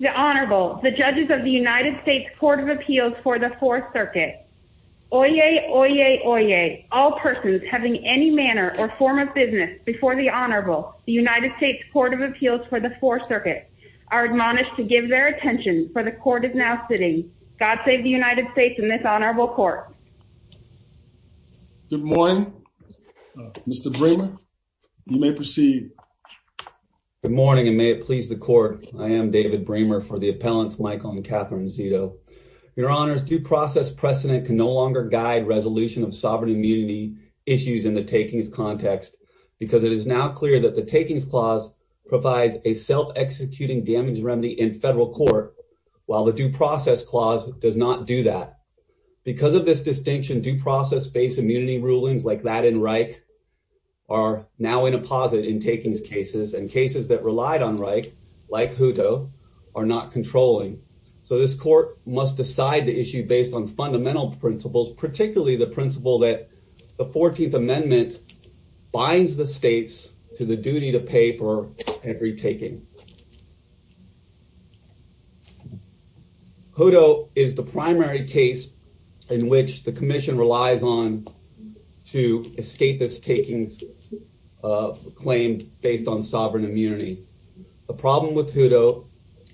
The Honorable, the Judges of the United States Court of Appeals for the Fourth Circuit. Oyez! Oyez! Oyez! All persons having any manner or form of business before the Honorable, the United States Court of Appeals for the Fourth Circuit, are admonished to give their attention, for the Court is now sitting. God save the United States and this Honorable Court. Good morning. Mr. Bremer, you may proceed. Good morning, and may it please the Court, I am David Bremer for the Appellants Michael and Catherine Zito. Your Honors, due process precedent can no longer guide resolution of sovereign immunity issues in the takings context, because it is now clear that the takings clause provides a self-executing damage remedy in federal court, while the due process clause does not do that. Because of this distinction, due process-based immunity rulings like that in Reich are now in a posit in takings cases, and cases that relied on Reich, like Hutto, are not controlling. So this Court must decide the issue based on fundamental principles, particularly the 14th Amendment binds the states to the duty to pay for every taking. Hutto is the primary case in which the Commission relies on to escape this takings claim based on sovereign immunity. The problem with Hutto,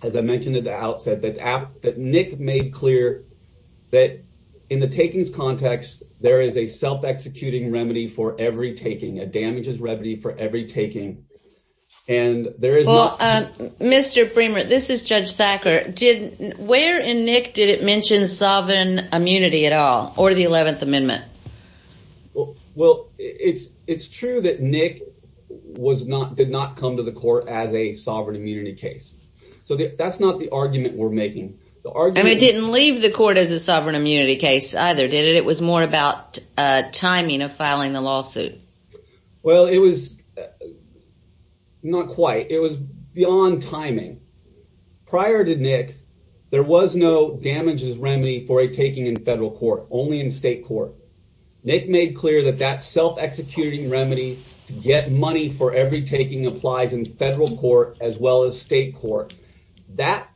as I mentioned at the outset, that Nick made clear, that in self-executing remedy for every taking, a damages remedy for every taking, and there is not... Well, Mr. Bremer, this is Judge Thacker, where in Nick did it mention sovereign immunity at all, or the 11th Amendment? Well, it's true that Nick did not come to the Court as a sovereign immunity case. So that's not the argument we're making. And it didn't leave the Court as a sovereign immunity case either, did it? It was more about timing of filing the lawsuit. Well, it was not quite. It was beyond timing. Prior to Nick, there was no damages remedy for a taking in federal court, only in state court. Nick made clear that that self-executing remedy to get money for every taking applies in federal court as well as state court. That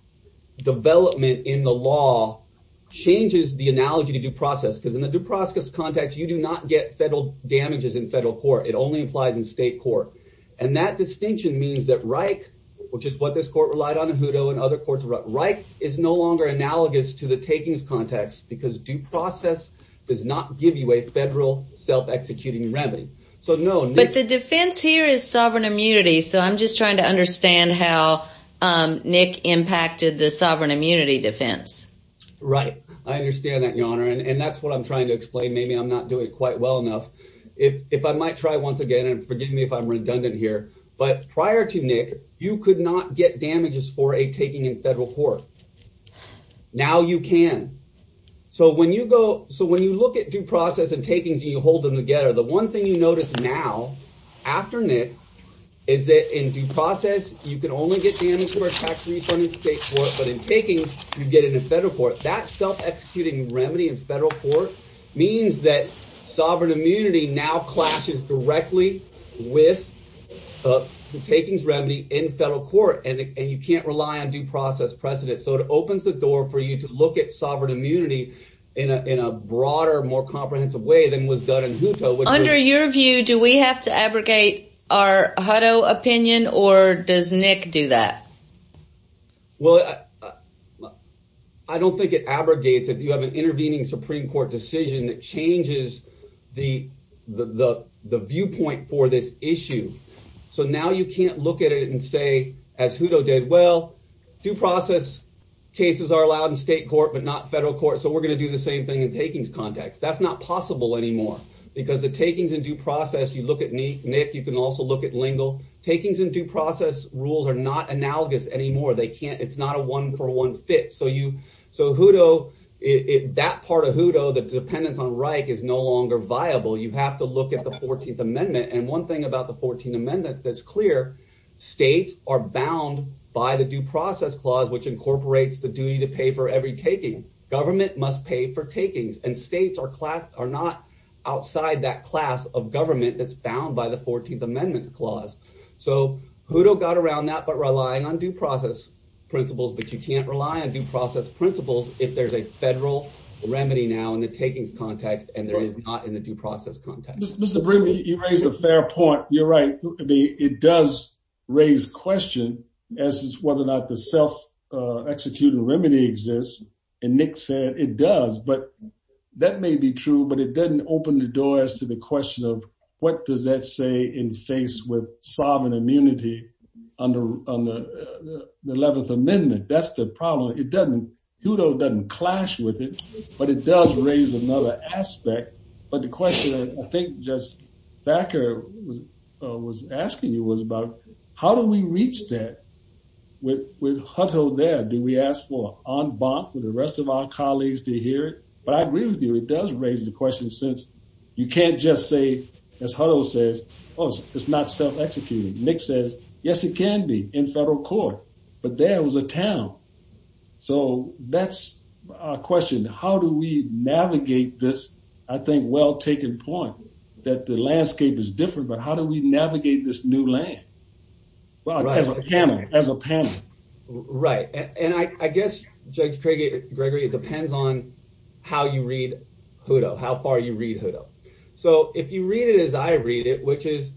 development in the law changes the analogy to due process, because in the due process context, you do not get federal damages in federal court. It only applies in state court. And that distinction means that Reich, which is what this Court relied on in Hutto and other courts, Reich is no longer analogous to the takings context, because due process does not give you a federal self-executing remedy. So no, Nick... But the defense here is sovereign immunity. So I'm just trying to understand how Nick impacted the sovereign immunity defense. Right. I understand that, Your Honor. And that's what I'm trying to explain. Maybe I'm not doing it quite well enough. If I might try once again, and forgive me if I'm redundant here, but prior to Nick, you could not get damages for a taking in federal court. Now you can. So when you go... So when you look at due process and takings and you hold them together, the one thing you notice now, after Nick, is that in due process, you can only get damages for a tax refund in state court, but in takings, you get it in federal court. That self-executing remedy in federal court means that sovereign immunity now clashes directly with the takings remedy in federal court. And you can't rely on due process precedent. So it opens the door for you to look at sovereign immunity in a broader, more comprehensive way than was done in Hutto. Under your view, do we have to abrogate our Hutto opinion, or does Nick do that? Well, I don't think it abrogates it. You have an intervening Supreme Court decision that changes the viewpoint for this issue. So now you can't look at it and say, as Hutto did, well, due process cases are allowed in state court, but not federal court. So we're going to do the same thing in takings context. That's not possible anymore, because the takings in due process, you look at Nick, you can also look at Lingle. Takings in due process rules are not analogous anymore. It's not a one-for-one fit. So that part of Hutto, the dependence on Reich, is no longer viable. You have to look at the 14th Amendment. And one thing about the 14th Amendment that's clear, states are bound by the Due Process Clause, which incorporates the duty to pay for every taking. Government must pay for takings. And states are not outside that class of government that's bound by the 14th Amendment Clause. So Hutto got around that, but relying on due process principles. But you can't rely on due process principles if there's a federal remedy now in the takings context and there is not in the due process context. Mr. Brimley, you raise a fair point. You're right. It does raise question as to whether or not the self-executed remedy exists. And Nick said it does, but that may be true, but it doesn't open the door as to the question of what does that say in face with sovereign immunity under the 11th Amendment? That's the problem. It doesn't, Hutto doesn't clash with it, but it does raise another aspect. But the question I think just Thacker was asking you was about how do we reach that with Hutto there? Do we ask for en banc for the rest of our colleagues to hear it? But I agree with you, it does raise the question since you can't just say, as Hutto says, it's not self-executed. Nick says, yes, it can be in federal court, but there was a town. So that's a question. How do we navigate this? I think well-taken point that the landscape is different, but how do we navigate this new land? As a panel. Right. And I guess, Judge Gregory, it depends on how you read Hutto, how far you read Hutto. So if you read it as I read it, which is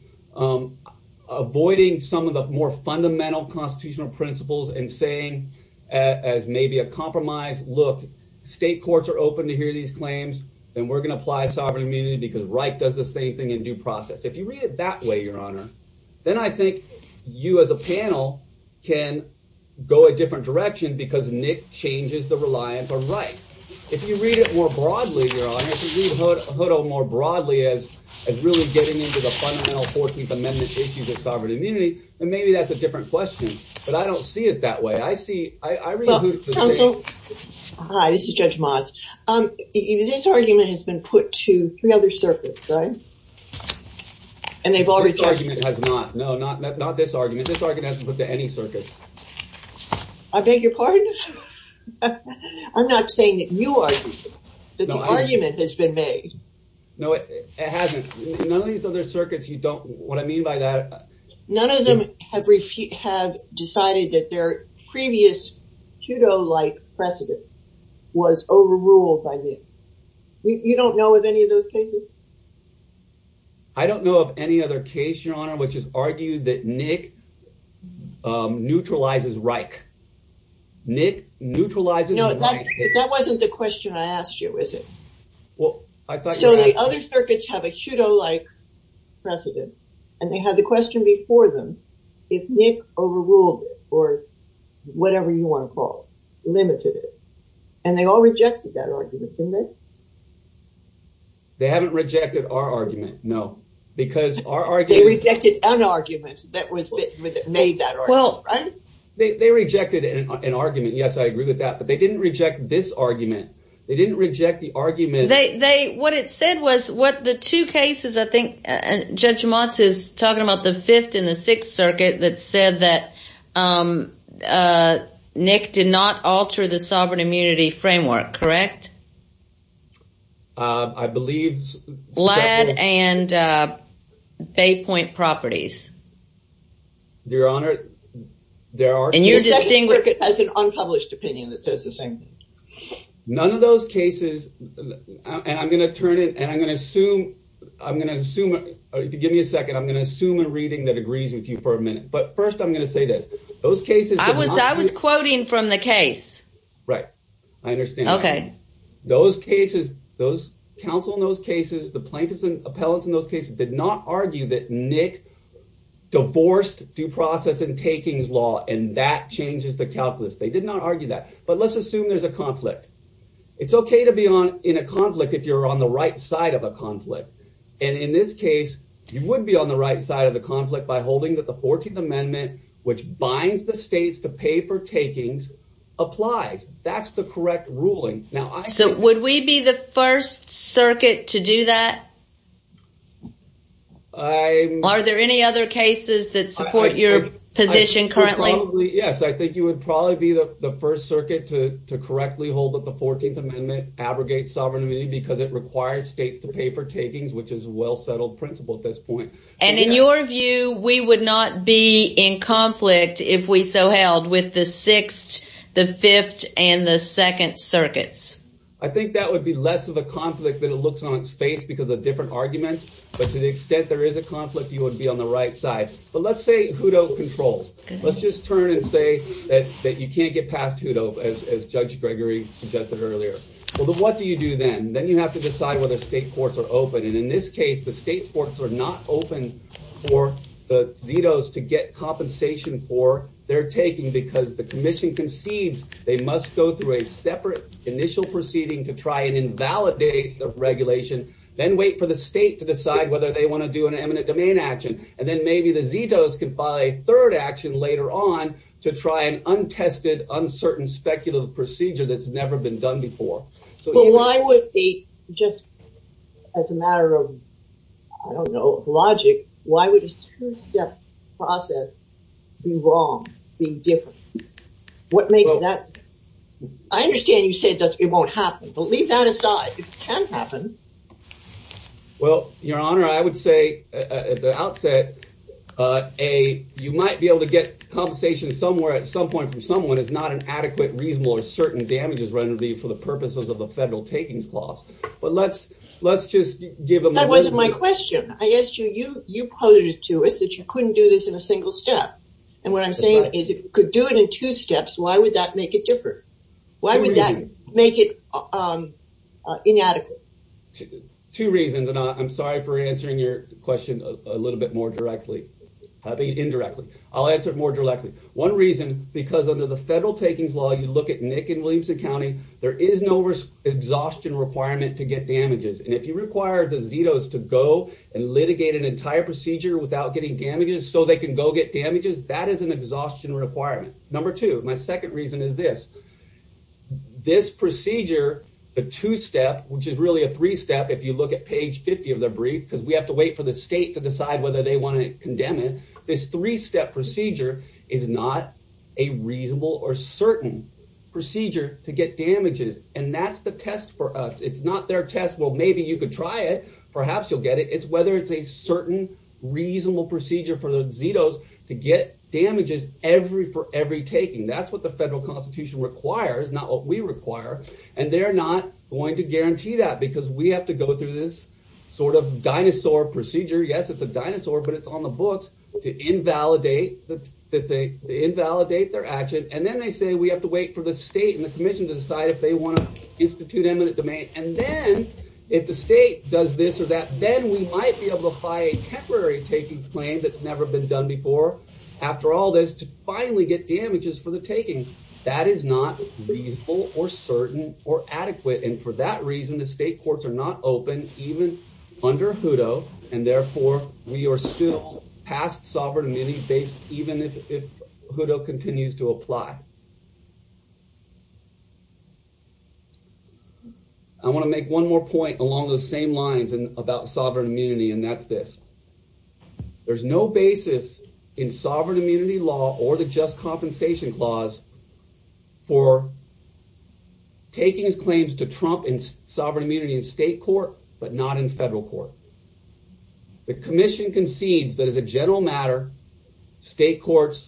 avoiding some of the more fundamental constitutional principles and saying as maybe a compromise, look, state courts are open to hear these claims, then we're going to apply sovereign immunity because Reich does the same thing in due process. If you read it that way, Your Honor, then I think you as a panel can go a different direction because Nick changes the reliance on Reich. If you read it more broadly, Your Honor, if you read Hutto more broadly as really getting into the fundamental 14th Amendment issues of sovereign immunity, then maybe that's a different question. But I don't see it that way. I see, I read Hutto- Counsel. Hi, this is Judge Motz. This argument has been put to three other circuits, right? And they've already- This argument has not. No, not this argument. This argument hasn't been put to any circuit. I beg your pardon? I'm not saying that you are, that the argument has been made. No, it hasn't. None of these other circuits, you don't, what I mean by that- None of them have decided that their previous Hutto-like precedent was overruled by Nick. You don't know of any of those cases? I don't know of any other case, Your Honor, which has argued that Nick neutralizes Reich. Nick neutralizes- No, that wasn't the question I asked you, was it? Well, I thought- The other circuits have a Hutto-like precedent, and they had the question before them, if Nick overruled it, or whatever you want to call it, limited it. And they all rejected that argument, didn't they? They haven't rejected our argument, no. Because our argument- They rejected an argument that made that argument, right? They rejected an argument, yes, I agree with that, but they didn't reject this argument. They didn't reject the argument- What it said was, what the two cases, I think, Judge Motz is talking about the Fifth and the Sixth Circuit, that said that Nick did not alter the sovereign immunity framework, correct? I believe- Ladd and Bay Point Properties. Your Honor, there are- And you're distinguished- The Second Circuit has an unpublished opinion that says the same thing. None of those cases, and I'm going to turn it, and I'm going to assume, give me a second, I'm going to assume a reading that agrees with you for a minute. But first, I'm going to say this. Those cases- I was quoting from the case. Right. I understand. Okay. Those cases, those counsel in those cases, the plaintiffs and appellants in those cases did not argue that Nick divorced due process and takings law, and that changes the calculus. They did not argue that. But let's assume there's a conflict. It's okay to be in a conflict if you're on the right side of a conflict, and in this case, you would be on the right side of the conflict by holding that the 14th Amendment, which binds the states to pay for takings, applies. That's the correct ruling. Now, I think- So, would we be the first circuit to do that? Are there any other cases that support your position currently? Yes, I think you would probably be the first circuit to correctly hold that the 14th Amendment abrogates sovereignty because it requires states to pay for takings, which is a well-settled principle at this point. And in your view, we would not be in conflict if we so held with the sixth, the fifth, and the second circuits? I think that would be less of a conflict than it looks on its face because of different arguments. But to the extent there is a conflict, you would be on the right side. But let's say who don't control? Let's just turn and say that you can't get past who don't, as Judge Gregory suggested earlier. Well, then what do you do then? Then you have to decide whether state courts are open, and in this case, the state courts are not open for the ZETOs to get compensation for their taking because the commission concedes they must go through a separate initial proceeding to try and invalidate the regulation, then wait for the state to decide whether they want to do an eminent domain action, and then maybe the ZETOs can file a third action later on to try an untested, uncertain, speculative procedure that's never been done before. But why would they just, as a matter of, I don't know, logic, why would a two-step process be wrong, be different? What makes that? I understand you say it won't happen, but leave that aside. It can happen. Well, Your Honor, I would say at the outset, you might be able to get compensation somewhere at some point from someone. It's not an adequate, reasonable, or certain damages remedy for the purposes of the federal takings clause. But let's just give them- That wasn't my question. I asked you, you posited to us that you couldn't do this in a single step, and what I'm saying is if you could do it in two steps, why would that make it different? Why would that make it inadequate? Two reasons, and I'm sorry for answering your question a little bit more directly, I mean indirectly. I'll answer it more directly. One reason, because under the federal takings law, you look at Nick and Williamson County, there is no exhaustion requirement to get damages. And if you require the ZETOs to go and litigate an entire procedure without getting damages so they can go get damages, that is an exhaustion requirement. Number two, my second reason is this. This procedure, the two-step, which is really a three-step if you look at page 50 of the brief, because we have to wait for the state to decide whether they want to condemn it. This three-step procedure is not a reasonable or certain procedure to get damages, and that's the test for us. It's not their test, well maybe you could try it, perhaps you'll get it. It's whether it's a certain reasonable procedure for the ZETOs to get damages for every taking. That's what the federal constitution requires, not what we require, and they're not going to guarantee that because we have to go through this sort of dinosaur procedure, yes it's a dinosaur but it's on the books, to invalidate their action, and then they say we have to wait for the state and the commission to decide if they want to institute eminent domain. And then, if the state does this or that, then we might be able to apply a temporary taking claim that's never been done before, after all this, to finally get damages for the taking. That is not reasonable or certain or adequate, and for that reason the state courts are not open even under HUDO, and therefore we are still past sovereign immunity even if HUDO continues to apply. I want to make one more point along those same lines about sovereign immunity, and that's this. There's no basis in sovereign immunity law or the just compensation clause for taking claims to trump in sovereign immunity in state court, but not in federal court. The commission concedes that as a general matter, state courts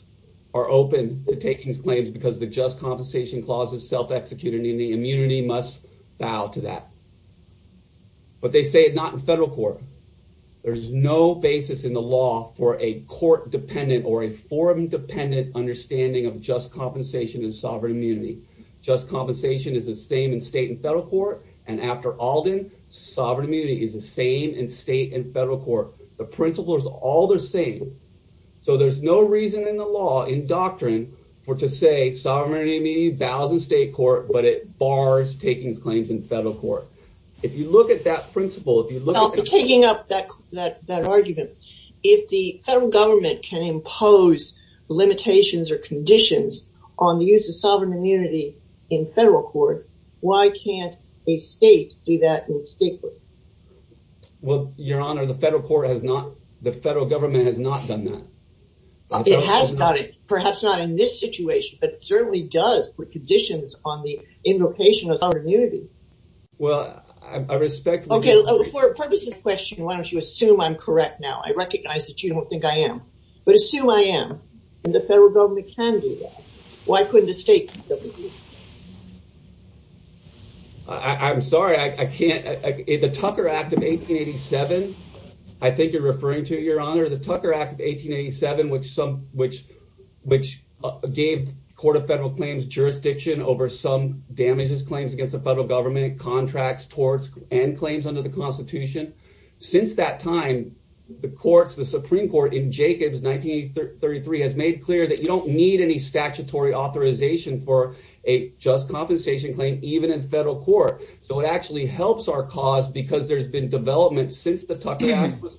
are open to taking claims because the just compensation clause is self-executed and the immunity must bow to that. But they say it's not in federal court. There's no basis in the law for a court-dependent or a forum-dependent understanding of just compensation and sovereign immunity. Just compensation is the same in state and federal court, and after Alden, sovereign immunity is the same in state and federal court. The principles are all the same, so there's no reason in the law, in doctrine, for to say sovereign immunity bows in state court, but it bars taking claims in federal court. If you look at that principle, if you look at the principle- Well, taking up that argument, if the federal government can impose limitations or conditions on the use of sovereign immunity in federal court, why can't a state do that in state court? Well, your honor, the federal government has not done that. It has not, perhaps not in this situation, but certainly does put conditions on the invocation of sovereign immunity. Well, I respect- Okay, for the purpose of the question, why don't you assume I'm correct now? I recognize that you don't think I am, but assume I am, and the federal government can do that. Why couldn't a state do that? I'm sorry, I can't. The Tucker Act of 1887, I think you're referring to, your honor. Under the Tucker Act of 1887, which gave the Court of Federal Claims jurisdiction over some damages claims against the federal government, contracts, torts, and claims under the Constitution. Since that time, the courts, the Supreme Court, in Jacobs, 1933, has made clear that you don't need any statutory authorization for a just compensation claim, even in federal court. It actually helps our cause because there's been development since the Tucker Act was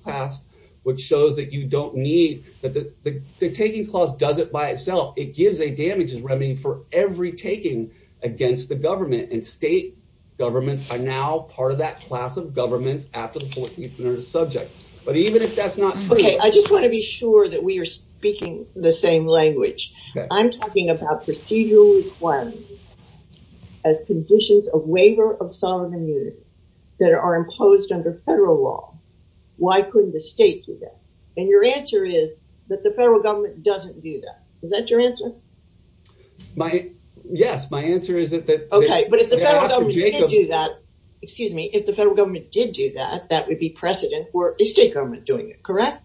that you don't need, that the Takings Clause does it by itself. It gives a damages remedy for every taking against the government, and state governments are now part of that class of governments after the 14th Amendment is subject. But even if that's not true- Okay, I just want to be sure that we are speaking the same language. I'm talking about procedural requirements as conditions of waiver of sovereign immunity that are imposed under federal law. Why couldn't the state do that? Your answer is that the federal government doesn't do that. Is that your answer? Yes. My answer is that- Okay, but if the federal government did do that, excuse me, if the federal government did do that, that would be precedent for a state government doing it, correct?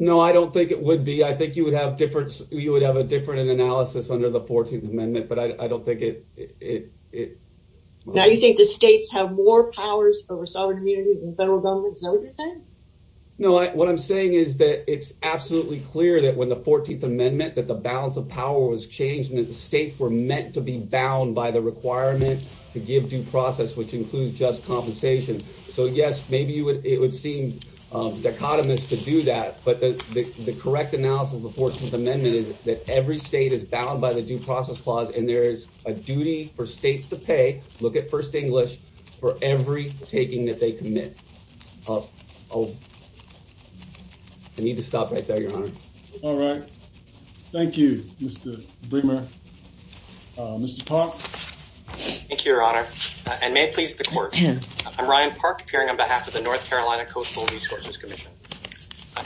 No, I don't think it would be. I think you would have a different analysis under the 14th Amendment, but I don't think it- Now you think the states have more powers over sovereign immunity than the federal government? Is that what you're saying? No, what I'm saying is that it's absolutely clear that when the 14th Amendment, that the balance of power was changed, and that the states were meant to be bound by the requirement to give due process, which includes just compensation. So yes, maybe it would seem dichotomous to do that, but the correct analysis of the 14th Amendment is that every state is bound by the Due Process Clause, and there is a duty for states to pay, look at First English, for every taking that they commit. I need to stop right there, Your Honor. All right. Thank you, Mr. Brimmer. Mr. Park? Thank you, Your Honor, and may it please the Court. I'm Ryan Park, appearing on behalf of the North Carolina Coastal Resources Commission.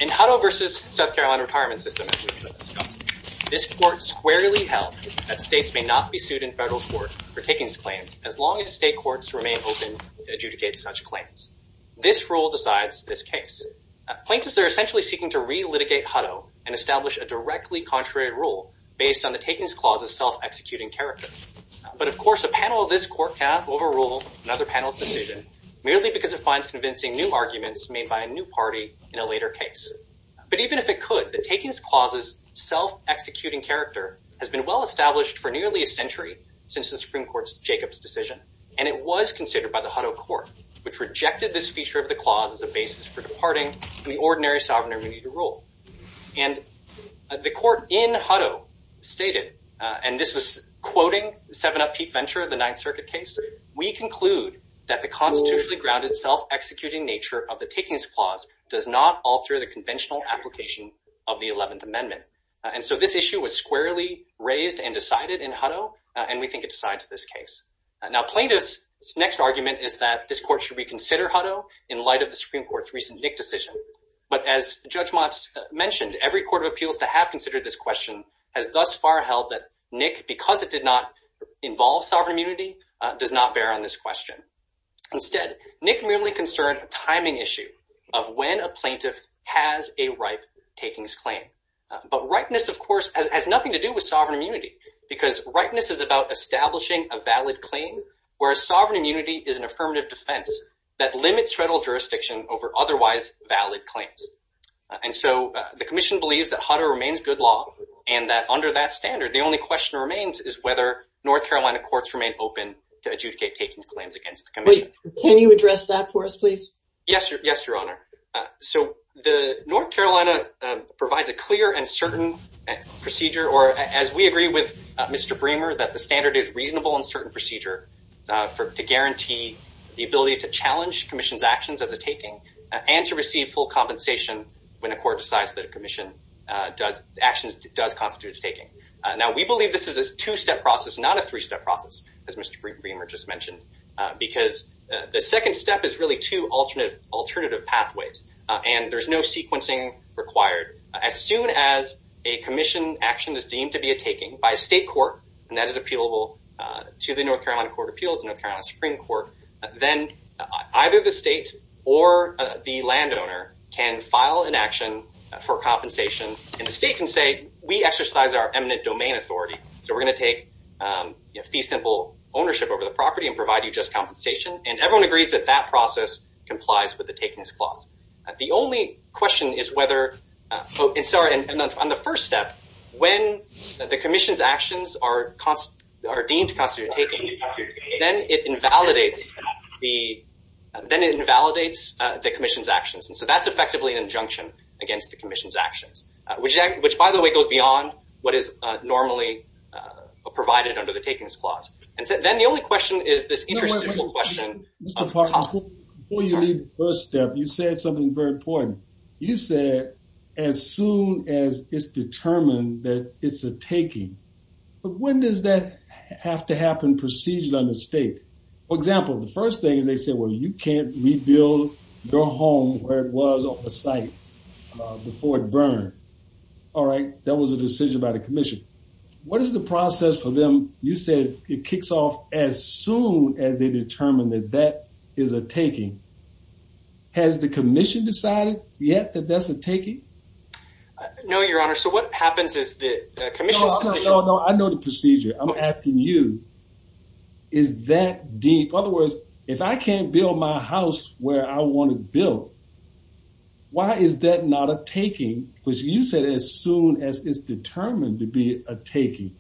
In Hutto v. South Carolina Retirement System, as we just discussed, this Court squarely held that states may not be sued in federal court for takings claims as long as state courts remain open to adjudicate such claims. This rule decides this case. Plaintiffs are essentially seeking to re-litigate Hutto and establish a directly contrary rule based on the Takings Clause's self-executing character. But of course, a panel of this Court cannot overrule another panel's decision merely because it finds convincing new arguments made by a new party in a later case. But even if it could, the Takings Clause's self-executing character has been well-established for nearly a century since the Supreme Court's Jacobs decision, and it was considered by the Hutto Court, which rejected this feature of the clause as a basis for departing from the ordinary sovereign immunity to rule. And the Court in Hutto stated, and this was quoting 7-Up Pete Venture, the Ninth Circuit case, We conclude that the constitutionally grounded self-executing nature of the Takings Clause does not alter the conventional application of the Eleventh Amendment. And so this issue was squarely raised and decided in Hutto, and we think it decides this case. Now, plaintiffs' next argument is that this Court should reconsider Hutto in light of the Supreme Court's recent Nick decision. But as Judge Motz mentioned, every court of appeals that have considered this question has thus far held that Nick, because it did not involve sovereign immunity, does not bear on this question. Instead, Nick merely concerned a timing issue of when a plaintiff has a ripe takings claim. But ripeness, of course, has nothing to do with sovereign immunity, because ripeness is about establishing a valid claim, whereas sovereign immunity is an affirmative defense that limits federal jurisdiction over otherwise valid claims. And so the Commission believes that Hutto remains good law, and that under that standard, the only question that remains is whether North Carolina courts remain open to adjudicate takings claims against the Commission. Wait. Can you address that for us, please? Yes. Yes, Your Honor. So the North Carolina provides a clear and certain procedure, or as we agree with Mr. Bremer, that the standard is reasonable and certain procedure to guarantee the ability to challenge Commission's actions as a taking, and to receive full compensation when a court decides that a Commission action does constitute a taking. Now we believe this is a two-step process, not a three-step process, as Mr. Bremer just mentioned, because the second step is really two alternative pathways, and there's no sequencing required. As soon as a Commission action is deemed to be a taking by a state court, and that is appealable to the North Carolina Court of Appeals and the North Carolina Supreme Court, then either the state or the landowner can file an action for compensation, and the state can say, we exercise our eminent domain authority, so we're going to take fee-simple ownership over the property and provide you just compensation, and everyone agrees that that process complies with the takings clause. The only question is whether, and sorry, on the first step, when the Commission's actions are deemed to constitute a taking, then it invalidates the Commission's actions, and so that's effectively an injunction against the Commission's actions, which by the way goes beyond what is normally provided under the takings clause. And so then the only question is this interstitial question of compensation. Mr. Parker, before you leave the first step, you said something very important. You said, as soon as it's determined that it's a taking, but when does that have to happen procedurally under state? For example, the first thing is they say, well, you can't rebuild your home where it was on the site before it burned, all right? That was a decision by the Commission. What is the process for them? You said it kicks off as soon as they determine that that is a taking. Has the Commission decided yet that that's a taking? No, Your Honor. So what happens is the Commission's decision- No, no, no. I know the procedure. I'm asking you. Is that deep? In other words, if I can't build my house where I want to build, why is that not a taking? You said as soon as it's determined to be a taking.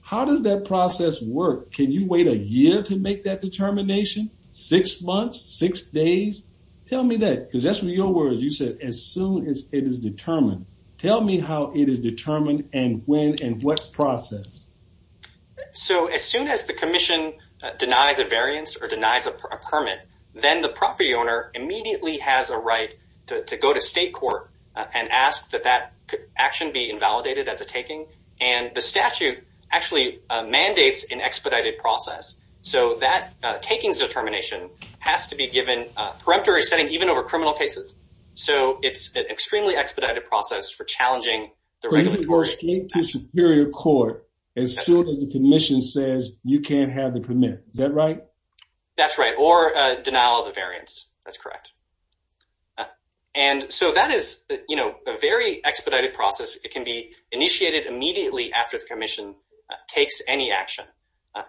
How does that process work? Can you wait a year to make that determination? Six months? Six days? Tell me that, because that's what your words, you said, as soon as it is determined. Tell me how it is determined and when and what process. So as soon as the Commission denies a variance or denies a permit, then the property owner immediately has a right to go to state court and ask that that action be invalidated as a taking. And the statute actually mandates an expedited process. So that taking's determination has to be given a peremptory setting, even over criminal cases. So it's an extremely expedited process for challenging the regulation. So you can go straight to superior court as soon as the Commission says you can't have the permit. Is that right? That's right. Or denial of the variance. That's correct. And so that is, you know, a very expedited process. It can be initiated immediately after the Commission takes any action.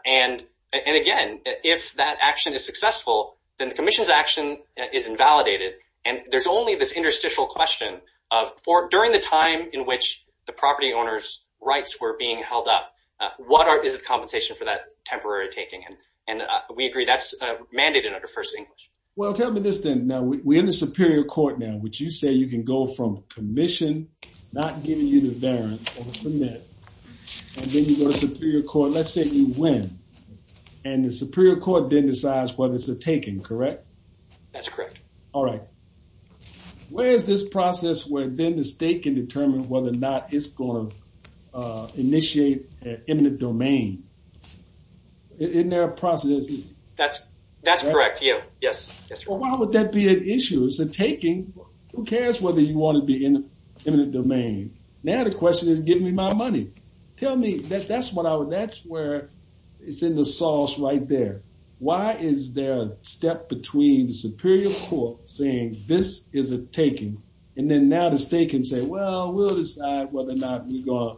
And again, if that action is successful, then the Commission's action is invalidated. And there's only this interstitial question of during the time in which the property owner's rights were being held up, what is the compensation for that temporary taking? And we agree that's mandated under First English. Well, tell me this then. Now, we're in the superior court now, which you say you can go from Commission not giving you the variance over permit, and then you go to superior court, let's say you win. And the superior court then decides whether it's a taking, correct? That's correct. All right. Where is this process where then the state can determine whether or not it's going to initiate an imminent domain? Isn't there a process? That's correct. Yeah. Yes. Yes, sir. Well, why would that be an issue? It's a taking. Who cares whether you want to be in an imminent domain? Now the question is, give me my money. Tell me, that's where it's in the sauce right there. Why is there a step between the superior court saying, this is a taking, and then now the state can say, well, we'll decide whether or not we're going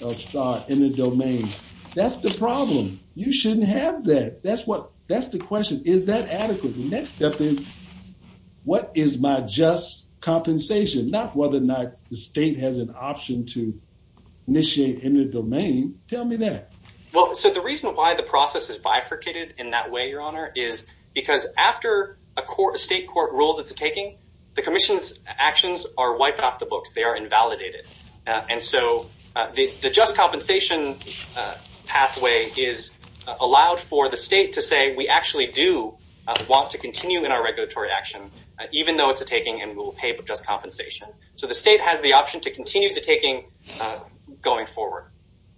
to start in the domain. That's the problem. You shouldn't have that. That's the question. Is that adequate? The next step is, what is my just compensation? Not whether or not the state has an option to initiate an imminent domain. Tell me that. Well, so the reason why the process is bifurcated in that way, your honor, is because after a state court rules it's a taking, the commission's actions are wiped off the books. They are invalidated. And so the just compensation pathway is allowed for the state to say, we actually do want to continue in our regulatory action, even though it's a taking and we'll pay just compensation. So the state has the option to continue the taking going forward.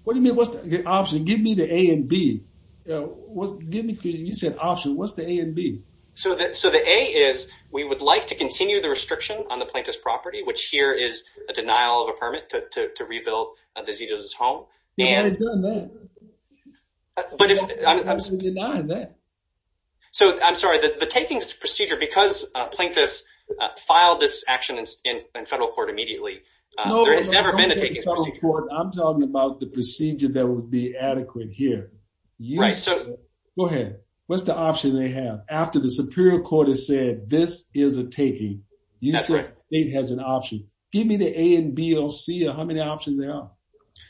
What do you mean, what's the option? Give me the A and B. Give me, you said option, what's the A and B? So the A is, we would like to continue the restriction on the plaintiff's property, which here is a denial of a permit to rebuild the Zito's home. You haven't done that. You're absolutely denying that. So I'm sorry, the takings procedure, because plaintiffs filed this action in federal court immediately, there has never been a taking procedure. I'm talking about the procedure that would be adequate here. Right. Go ahead. What's the option they have? After the superior court has said, this is a taking, you said the state has an option. Give me the A and B or C or how many options there are.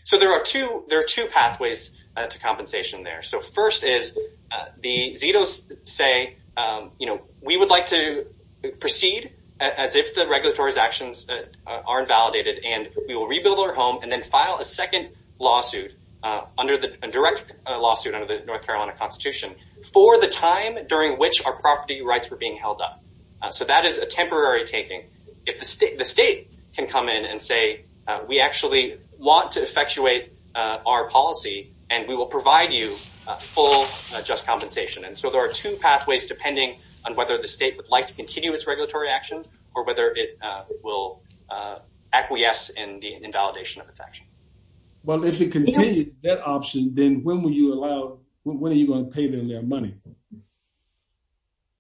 So there are two, there are two pathways to compensation there. So first is the Zitos say, you know, we would like to proceed as if the regulatory actions are invalidated and we will rebuild our home and then file a second lawsuit under the direct which our property rights were being held up. So that is a temporary taking if the state, the state can come in and say, we actually want to effectuate our policy and we will provide you a full just compensation. And so there are two pathways depending on whether the state would like to continue its regulatory action or whether it will acquiesce in the invalidation of its action. Well if it continues that option, then when will you allow, when are you going to pay them their money?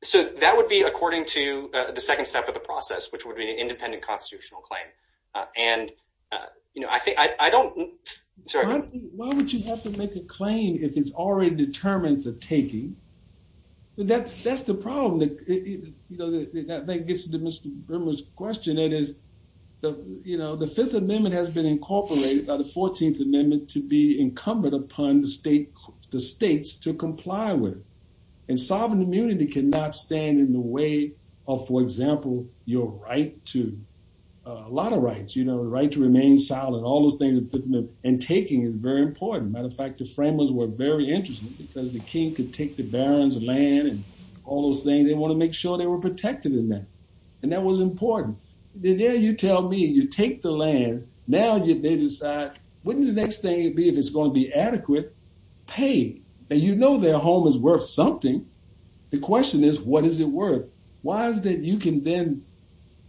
So that would be according to the second step of the process, which would be an independent constitutional claim. And, you know, I think, I don't, sorry. Why would you have to make a claim if it's already determined it's a taking? That's the problem that, you know, that gets to Mr. Brimmer's question that is, you know, the fifth amendment has been incorporated by the 14th amendment to be incumbent upon the state, the states to comply with. And sovereign immunity cannot stand in the way of, for example, your right to, a lot of rights, you know, the right to remain silent, all those things in the fifth amendment. And taking is very important. As a matter of fact, the framers were very interested because the king could take the barons land and all those things. They want to make sure they were protected in that. And that was important. Then there you tell me, you take the land. And now they decide, wouldn't the next thing it'd be, if it's going to be adequate pay that, you know, their home is worth something. The question is, what is it worth? Why is that? You can then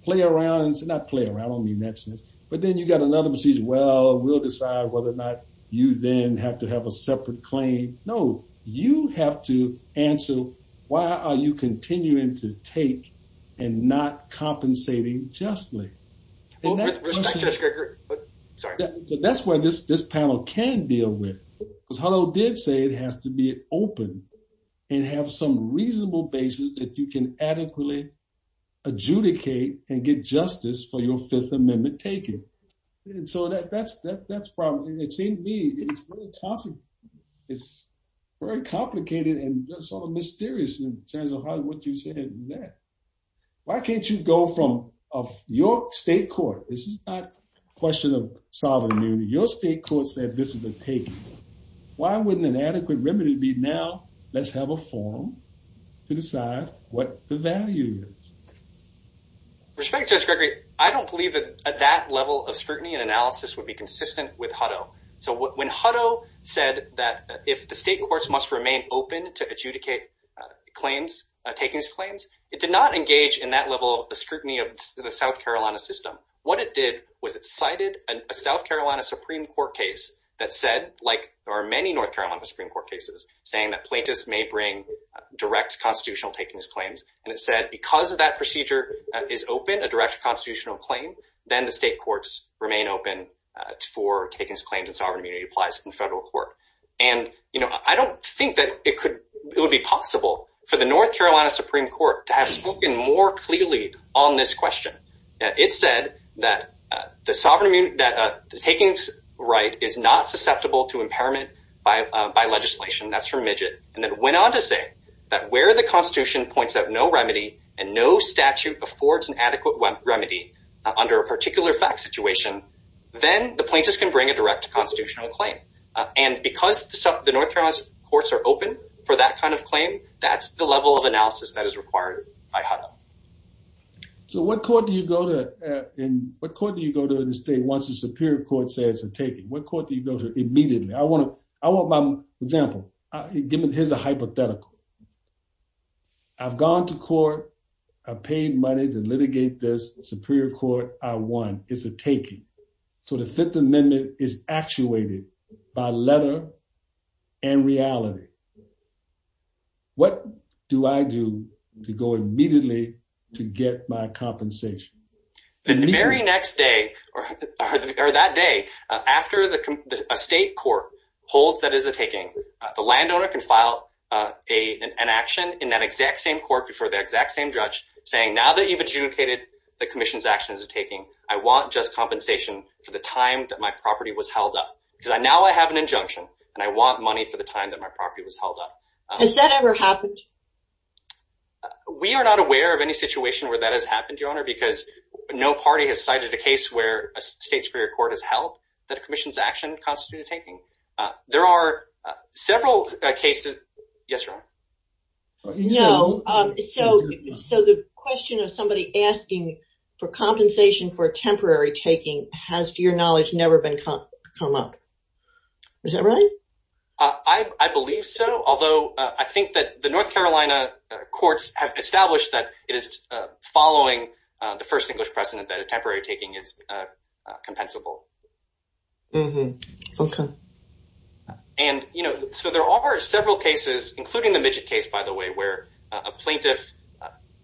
play around and say, not play around, I don't mean that sense, but then you've got another decision. Well, we'll decide whether or not you then have to have a separate claim. No, you have to answer. Why are you continuing to take and not compensating justly? That's where this panel can deal with, because Hullo did say it has to be open and have some reasonable basis that you can adequately adjudicate and get justice for your fifth amendment taking. And so that's probably, it seemed to me, it's very complicated and sort of mysterious in terms of what you said there. Why can't you go from your state court, this is not a question of sovereignty, your state court said this is a taking. Why wouldn't an adequate remedy be, now let's have a forum to decide what the value is? Respect to Judge Gregory, I don't believe that that level of scrutiny and analysis would be consistent with Hutto. So when Hutto said that if the state courts must remain open to adjudicate claims, taking these claims, it did not engage in that level of scrutiny of the South Carolina system. What it did was it cited a South Carolina Supreme Court case that said, like there are many North Carolina Supreme Court cases saying that plaintiffs may bring direct constitutional taking these claims. And it said, because of that procedure is open, a direct constitutional claim, then the state courts remain open for taking these claims and sovereign immunity applies in federal court. And I don't think that it would be possible for the North Carolina Supreme Court to have spoken more clearly on this question. It said that the sovereign immunity, that the takings right is not susceptible to impairment by legislation. That's from Midget. And then went on to say that where the constitution points out no remedy and no statute affords an adequate remedy under a particular fact situation, then the plaintiffs can bring a direct constitutional claim. And because the North Carolina courts are open for that kind of claim, that's the level of analysis that is required by HUDL. So what court do you go to, what court do you go to in the state once the Superior Court says it's a taking? What court do you go to immediately? I want my example, give me, here's a hypothetical. I've gone to court, I've paid money to litigate this, the Superior Court, I won, it's a taking. So the Fifth Amendment is actuated by letter and reality. What do I do to go immediately to get my compensation? The very next day or that day after a state court holds that is a taking, the landowner can file an action in that exact same court before the exact same judge saying, now that you've adjudicated that commission's action is a taking, I want just compensation for the time that my property was held up. Because now I have an injunction and I want money for the time that my property was held up. Has that ever happened? We are not aware of any situation where that has happened, Your Honor, because no party has cited a case where a state Superior Court has held that a commission's action constitutes a taking. There are several cases, yes, Your Honor? No, so the question of somebody asking for compensation for a temporary taking has, to your knowledge, never been come up, is that right? I believe so, although I think that the North Carolina courts have established that it is following the first English precedent that a temporary taking is compensable. Mm-hmm. Okay. And, you know, so there are several cases, including the Midgett case, by the way, where a plaintiff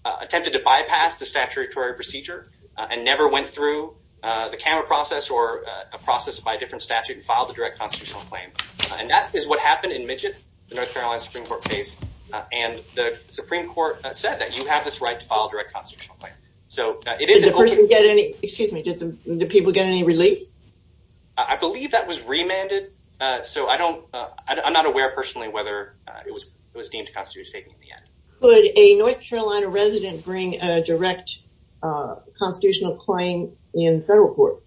attempted to bypass the statutory procedure and never went through the camera process or a process by a different statute and filed a direct constitutional claim. And that is what happened in Midgett, the North Carolina Supreme Court case, and the Supreme Court said that you have this right to file a direct constitutional claim. So it is- Did the people get any relief? I believe that was remanded. So I'm not aware personally whether it was deemed to constitute a taking in the end. Could a North Carolina resident bring a direct constitutional claim in federal court?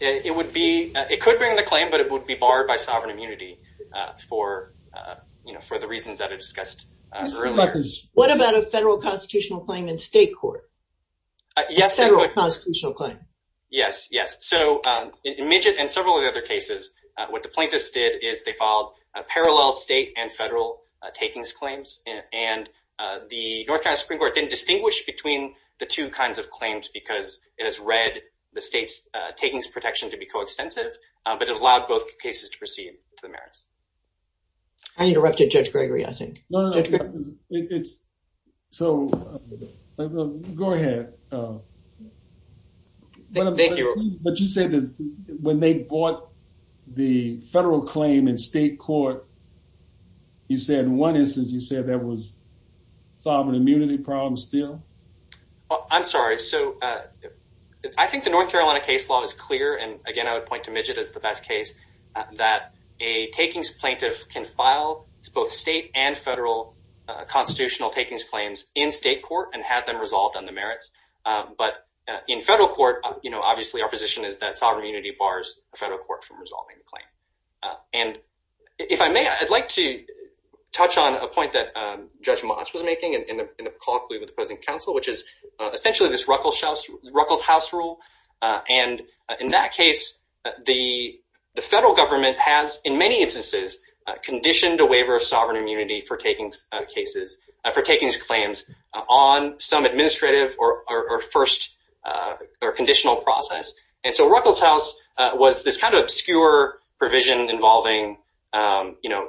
It could bring the claim, but it would be barred by sovereign immunity for the reasons that I discussed earlier. What about a federal constitutional claim in state court? Yes. A federal constitutional claim? Yes. Yes. So in Midgett and several of the other cases, what the plaintiffs did is they filed a parallel state and federal takings claims. And the North Carolina Supreme Court didn't distinguish between the two kinds of claims because it has read the state's takings protection to be coextensive, but it allowed both cases to proceed to the merits. I interrupted Judge Gregory, I think. No, no, no. It's- So, go ahead. Thank you. But you said that when they bought the federal claim in state court, you said in one instance you said that was sovereign immunity problem still? I'm sorry. So I think the North Carolina case law is clear, and again, I would point to Midgett as the best case, that a takings plaintiff can file both state and federal constitutional takings claims in state court and have them resolved on the merits. But in federal court, you know, obviously our position is that sovereign immunity bars the federal court from resolving the claim. And if I may, I'd like to touch on a point that Judge Motz was making in the call with the present counsel, which is essentially this Ruckelshaus rule. And in that case, the federal government has, in many instances, conditioned a waiver of sovereign immunity for takings claims on some administrative or first or conditional process. And so Ruckelshaus was this kind of obscure provision involving, you know,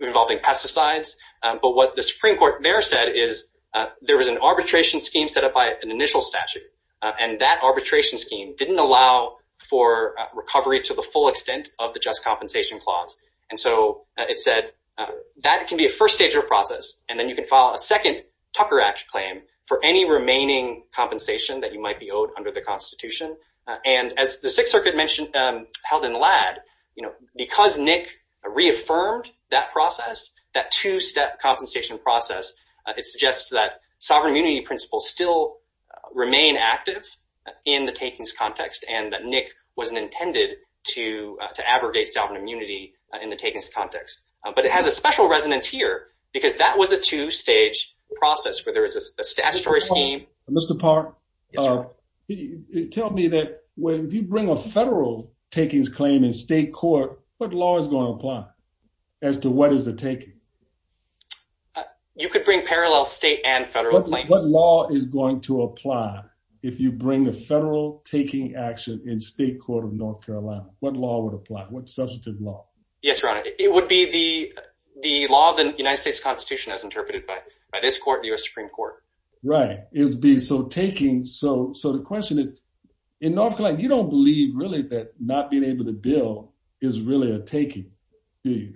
involving pesticides. But what the Supreme Court there said is there was an arbitration scheme set up by an initial statute, and that arbitration scheme didn't allow for recovery to the full extent of the just compensation clause. And so it said that it can be a first stage of process, and then you can file a second Tucker Act claim for any remaining compensation that you might be owed under the Constitution. And as the Sixth Circuit mentioned, held in Ladd, you know, because Nick reaffirmed that process, that two-step compensation process, it suggests that sovereign immunity principles still remain active in the takings context, and that Nick wasn't intended to abrogate sovereign immunity in the takings context. But it has a special resonance here, because that was a two-stage process where there was a statutory scheme. Mr. Park, tell me that if you bring a federal takings claim in state court, what law is going to apply as to what is a taking? You could bring parallel state and federal claims. What law is going to apply if you bring a federal taking action in state court of North Carolina? What law would apply? What substantive law? Yes, Your Honor. It would be the law of the United States Constitution as interpreted by this court, the U.S. Supreme Court. Right. So taking, so the question is, in North Carolina, you don't believe really that not being able to bill is really a taking, do you?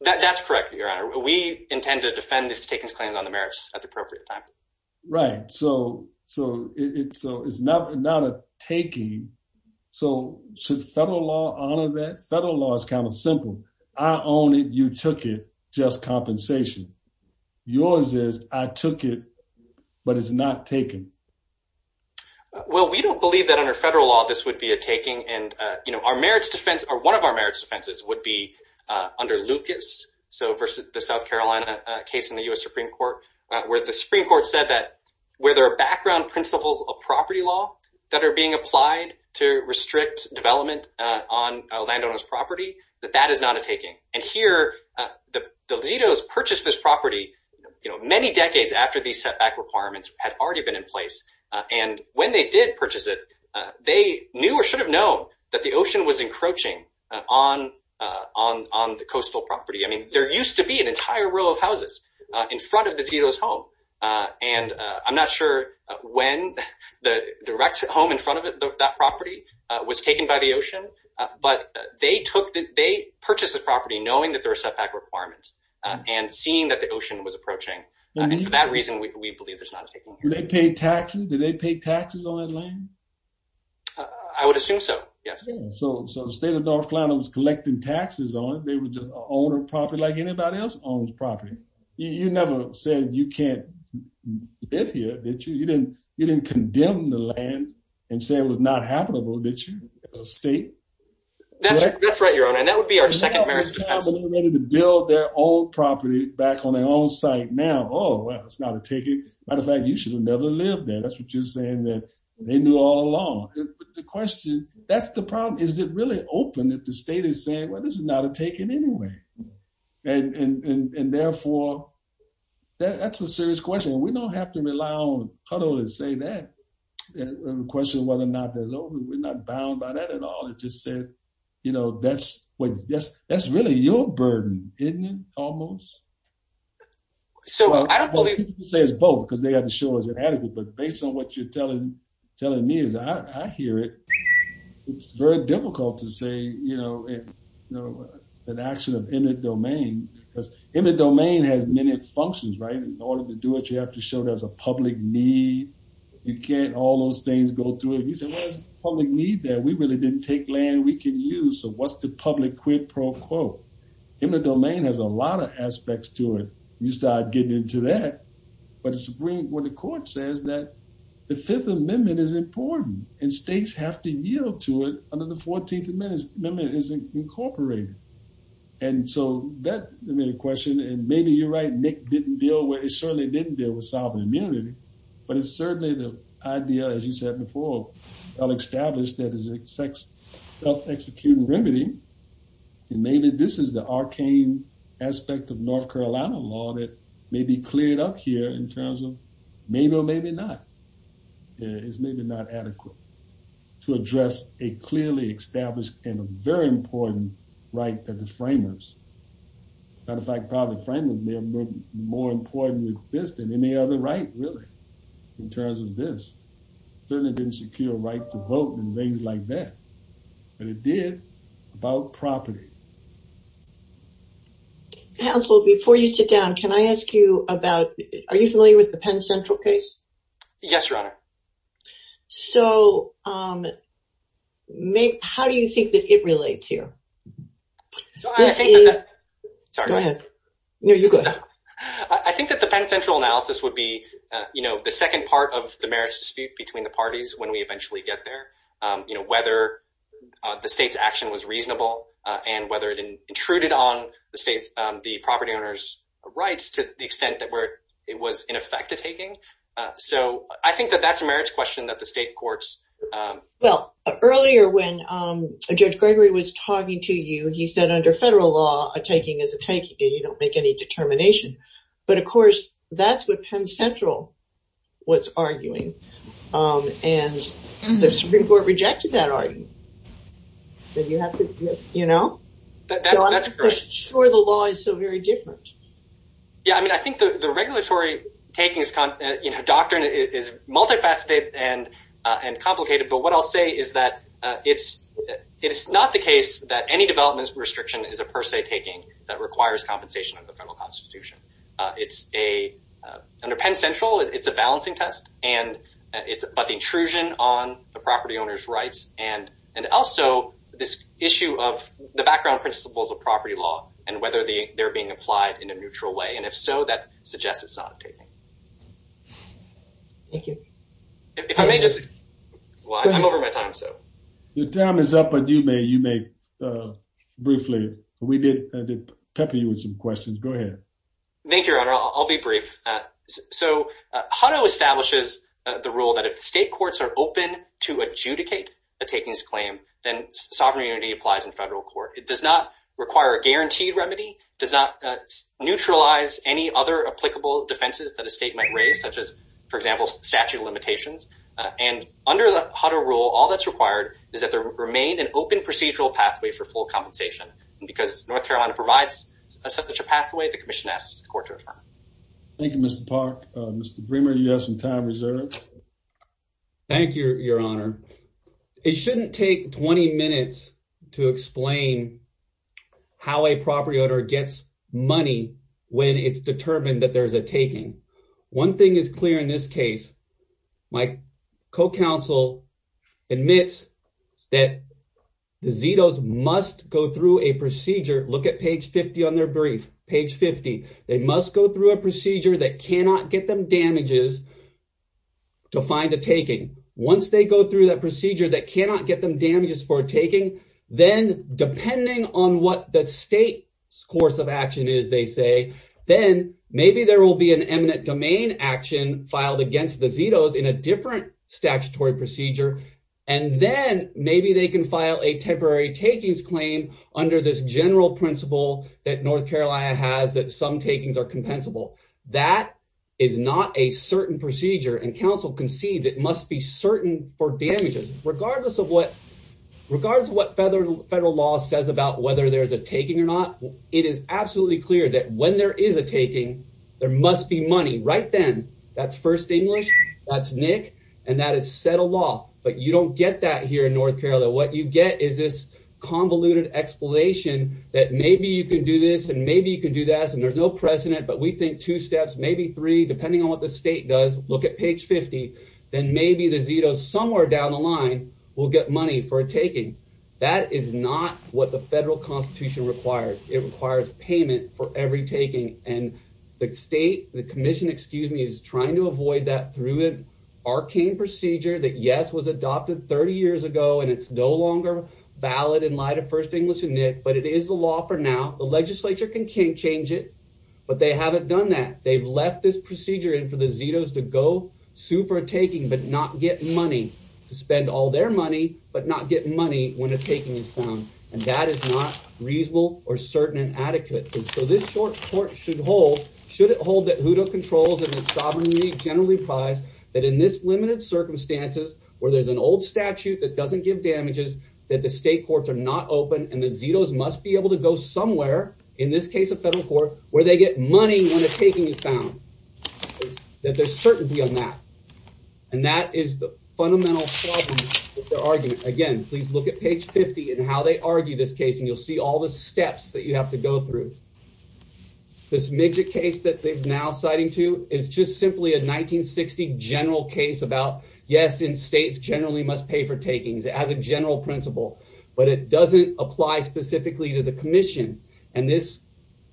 That's correct, Your Honor. We intend to defend these takings claims on the merits at the appropriate time. Right. So it's not a taking. So should federal law honor that? Federal law is kind of simple. I own it. You took it. Just compensation. Yours is, I took it, but it's not taken. Well, we don't believe that under federal law, this would be a taking. And our merits defense, or one of our merits defenses, would be under Lucas. So versus the South Carolina case in the U.S. Supreme Court, where the Supreme Court said that where there are background principles of property law that are being applied to restrict development on a landowner's property, that that is not a taking. And here, the Zetos purchased this property, you know, many decades after these setback requirements had already been in place. And when they did purchase it, they knew or should have known that the ocean was encroaching on the coastal property. I mean, there used to be an entire row of houses in front of the Zetos' home. And I'm not sure when the direct home in front of that property was taken by the ocean. But they purchased the property knowing that there were setback requirements and seeing that the ocean was approaching. And for that reason, we believe there's not a taking. Did they pay taxes? Did they pay taxes on that land? I would assume so, yes. So, the state of North Carolina was collecting taxes on it. They would just own a property like anybody else owns property. You never said you can't live here, did you? You didn't condemn the land and say it was not habitable, did you, as a state? That's right, Your Honor, and that would be our second marriage defense. They're ready to build their old property back on their own site now. Oh, well, it's not a taking. Matter of fact, you should have never lived there. That's what you're saying, that they knew all along. But the question, that's the problem. Is it really open if the state is saying, well, this is not a taking anyway? And therefore, that's a serious question. We don't have to rely on Cuddle to say that, the question of whether or not that's open. We're not bound by that at all. It just says, you know, that's what, that's really your burden, isn't it, almost? Well, people say it's both because they have to show it's inadequate. But based on what you're telling me is, I hear it. It's very difficult to say, you know, an action of eminent domain. Because eminent domain has many functions, right? In order to do it, you have to show there's a public need. You can't all those things go through it. You say, well, there's a public need there. We really didn't take land we can use, so what's the public quid pro quo? Eminent domain has a lot of aspects to it. You start getting into that. But what the court says that the Fifth Amendment is important, and states have to yield to it under the 14th Amendment is incorporated. And so that, I mean, the question, and maybe you're right, Nick didn't deal with, it certainly didn't deal with sovereign immunity. But it's certainly the idea, as you said before, well-established that is self-executing remedy. And maybe this is the arcane aspect of North Carolina law that may be cleared up here in terms of maybe or maybe not. It's maybe not adequate to address a clearly established and a very important right that the framers, as a matter of fact, probably the framers may have been more important with this than any other right, really, in terms of this. Certainly didn't secure a right to vote and things like that. But it did about property. Council, before you sit down, can I ask you about, are you familiar with the Penn Central case? Yes, Your Honor. So how do you think that it relates here? I think that the Penn Central analysis would be the second part of the marriage dispute between the parties when we eventually get there. Whether the state's action was reasonable and whether it intruded on the state's, the property owner's rights to the extent that it was in effect a taking. So I think that that's a marriage question that the state courts. Well, earlier when Judge Gregory was talking to you, he said under federal law, a taking is a taking. You don't make any determination. But of course, that's what Penn Central was arguing. And the Supreme Court rejected that argument. That you have to, you know? That's correct. I'm not sure the law is so very different. Yeah, I mean, I think the regulatory taking, the doctrine is multifaceted and complicated. But what I'll say is that it's not the case that any development restriction is a per se taking that requires compensation of the federal constitution. It's a, under Penn Central, it's a balancing test. And it's about the intrusion on the property owner's rights. And also this issue of the background principles of property law and whether they're being applied in a neutral way. And if so, that suggests it's not a taking. Thank you. If I may just, well, I'm over my time, so. Your time is up, but you may, you may briefly, we did pepper you with some questions. Go ahead. Thank you, Your Honor, I'll be brief. So, Hutto establishes the rule that if the state courts are open to adjudicate a takings claim, then sovereign immunity applies in federal court. It does not require a guaranteed remedy, does not neutralize any other applicable defenses that a state might raise, such as, for example, statute of limitations. And under the Hutto rule, all that's required is that there remain an open procedural pathway for full compensation. And because North Carolina provides such a pathway, the commission asks the court to affirm it. Thank you, Mr. Park. Mr. Bremer, you have some time reserved. Thank you, Your Honor. It shouldn't take 20 minutes to explain how a property owner gets money when it's determined that there's a taking. One thing is clear in this case. My co-counsel admits that the ZETOs must go through a procedure. Look at page 50 on their brief, page 50. They must go through a procedure that cannot get them damages to find a taking. Once they go through that procedure that cannot get them damages for a taking, then depending on what the state's course of action is, they say, then maybe there will be an eminent domain action filed against the ZETOs in a different statutory procedure. And then maybe they can file a temporary takings claim under this general principle that North Carolina has that some takings are compensable. That is not a certain procedure, and counsel concedes it must be certain for damages. Regardless of what federal law says about whether there's a taking or not, it is absolutely clear that when there is a taking, there must be money right then. That's first English, that's NIC, and that is settled law. But you don't get that here in North Carolina. What you get is this convoluted explanation that maybe you can do this and maybe you can do that, and there's no precedent, but we think two steps, maybe three, depending on what the state does. Look at page 50, then maybe the ZETOs somewhere down the line will get money for a taking. That is not what the federal constitution requires. It requires payment for every taking. And the state, the commission, excuse me, is trying to avoid that through an arcane procedure that, yes, was adopted 30 years ago, and it's no longer valid in light of first English and NIC, but it is the law for now. The legislature can change it, but they haven't done that. They've left this procedure in for the ZETOs to go sue for a taking but not get money, to spend all their money but not get money when a taking is found. And that is not reasonable or certain and adequate. So this court should hold, should it hold that HOODA controls and the sovereign league generally applies that in this limited circumstances where there's an old statute that doesn't give damages, that the state courts are not open and the ZETOs must be able to go somewhere, in this case, a federal court, where they get money when a taking is found, that there's certainty on that. And that is the fundamental problem with their argument. Again, please look at page 50 and how they argue this case and you'll see all the steps that you have to go through. This midget case that they're now citing too is just simply a 1960 general case about, yes, and states generally must pay for takings as a general principle, but it doesn't apply specifically to the commission. And this,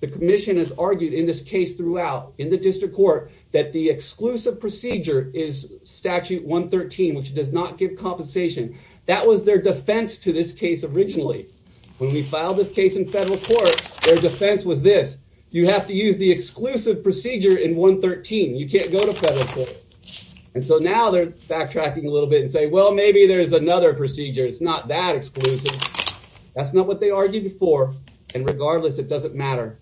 the commission has argued in this case throughout in the district court that the exclusive procedure is statute 113, which does not give compensation. That was their defense to this case originally. When we filed this case in federal court, their defense was this, you have to use the exclusive procedure in 113. You can't go to federal court. And so now they're backtracking a little bit and say, well, maybe there's another procedure. It's not that exclusive. That's not what they argued before. And regardless, it doesn't matter.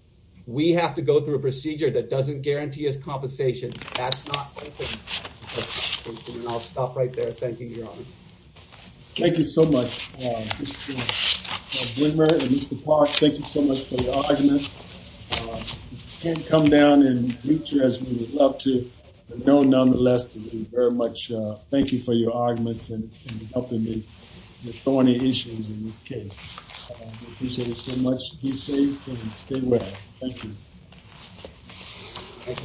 We have to go through a procedure that doesn't guarantee us compensation. That's not open to compensation. And I'll stop right there. Thank you, Your Honor. Thank you so much, Mr. Bloomer and Mr. Park. Thank you so much for your arguments. We can't come down and reach you as we would love to, but nonetheless, thank you for your arguments and helping with so many issues in this case. Appreciate it so much. Be safe and stay well. Thank you. Thank you, Your Honor.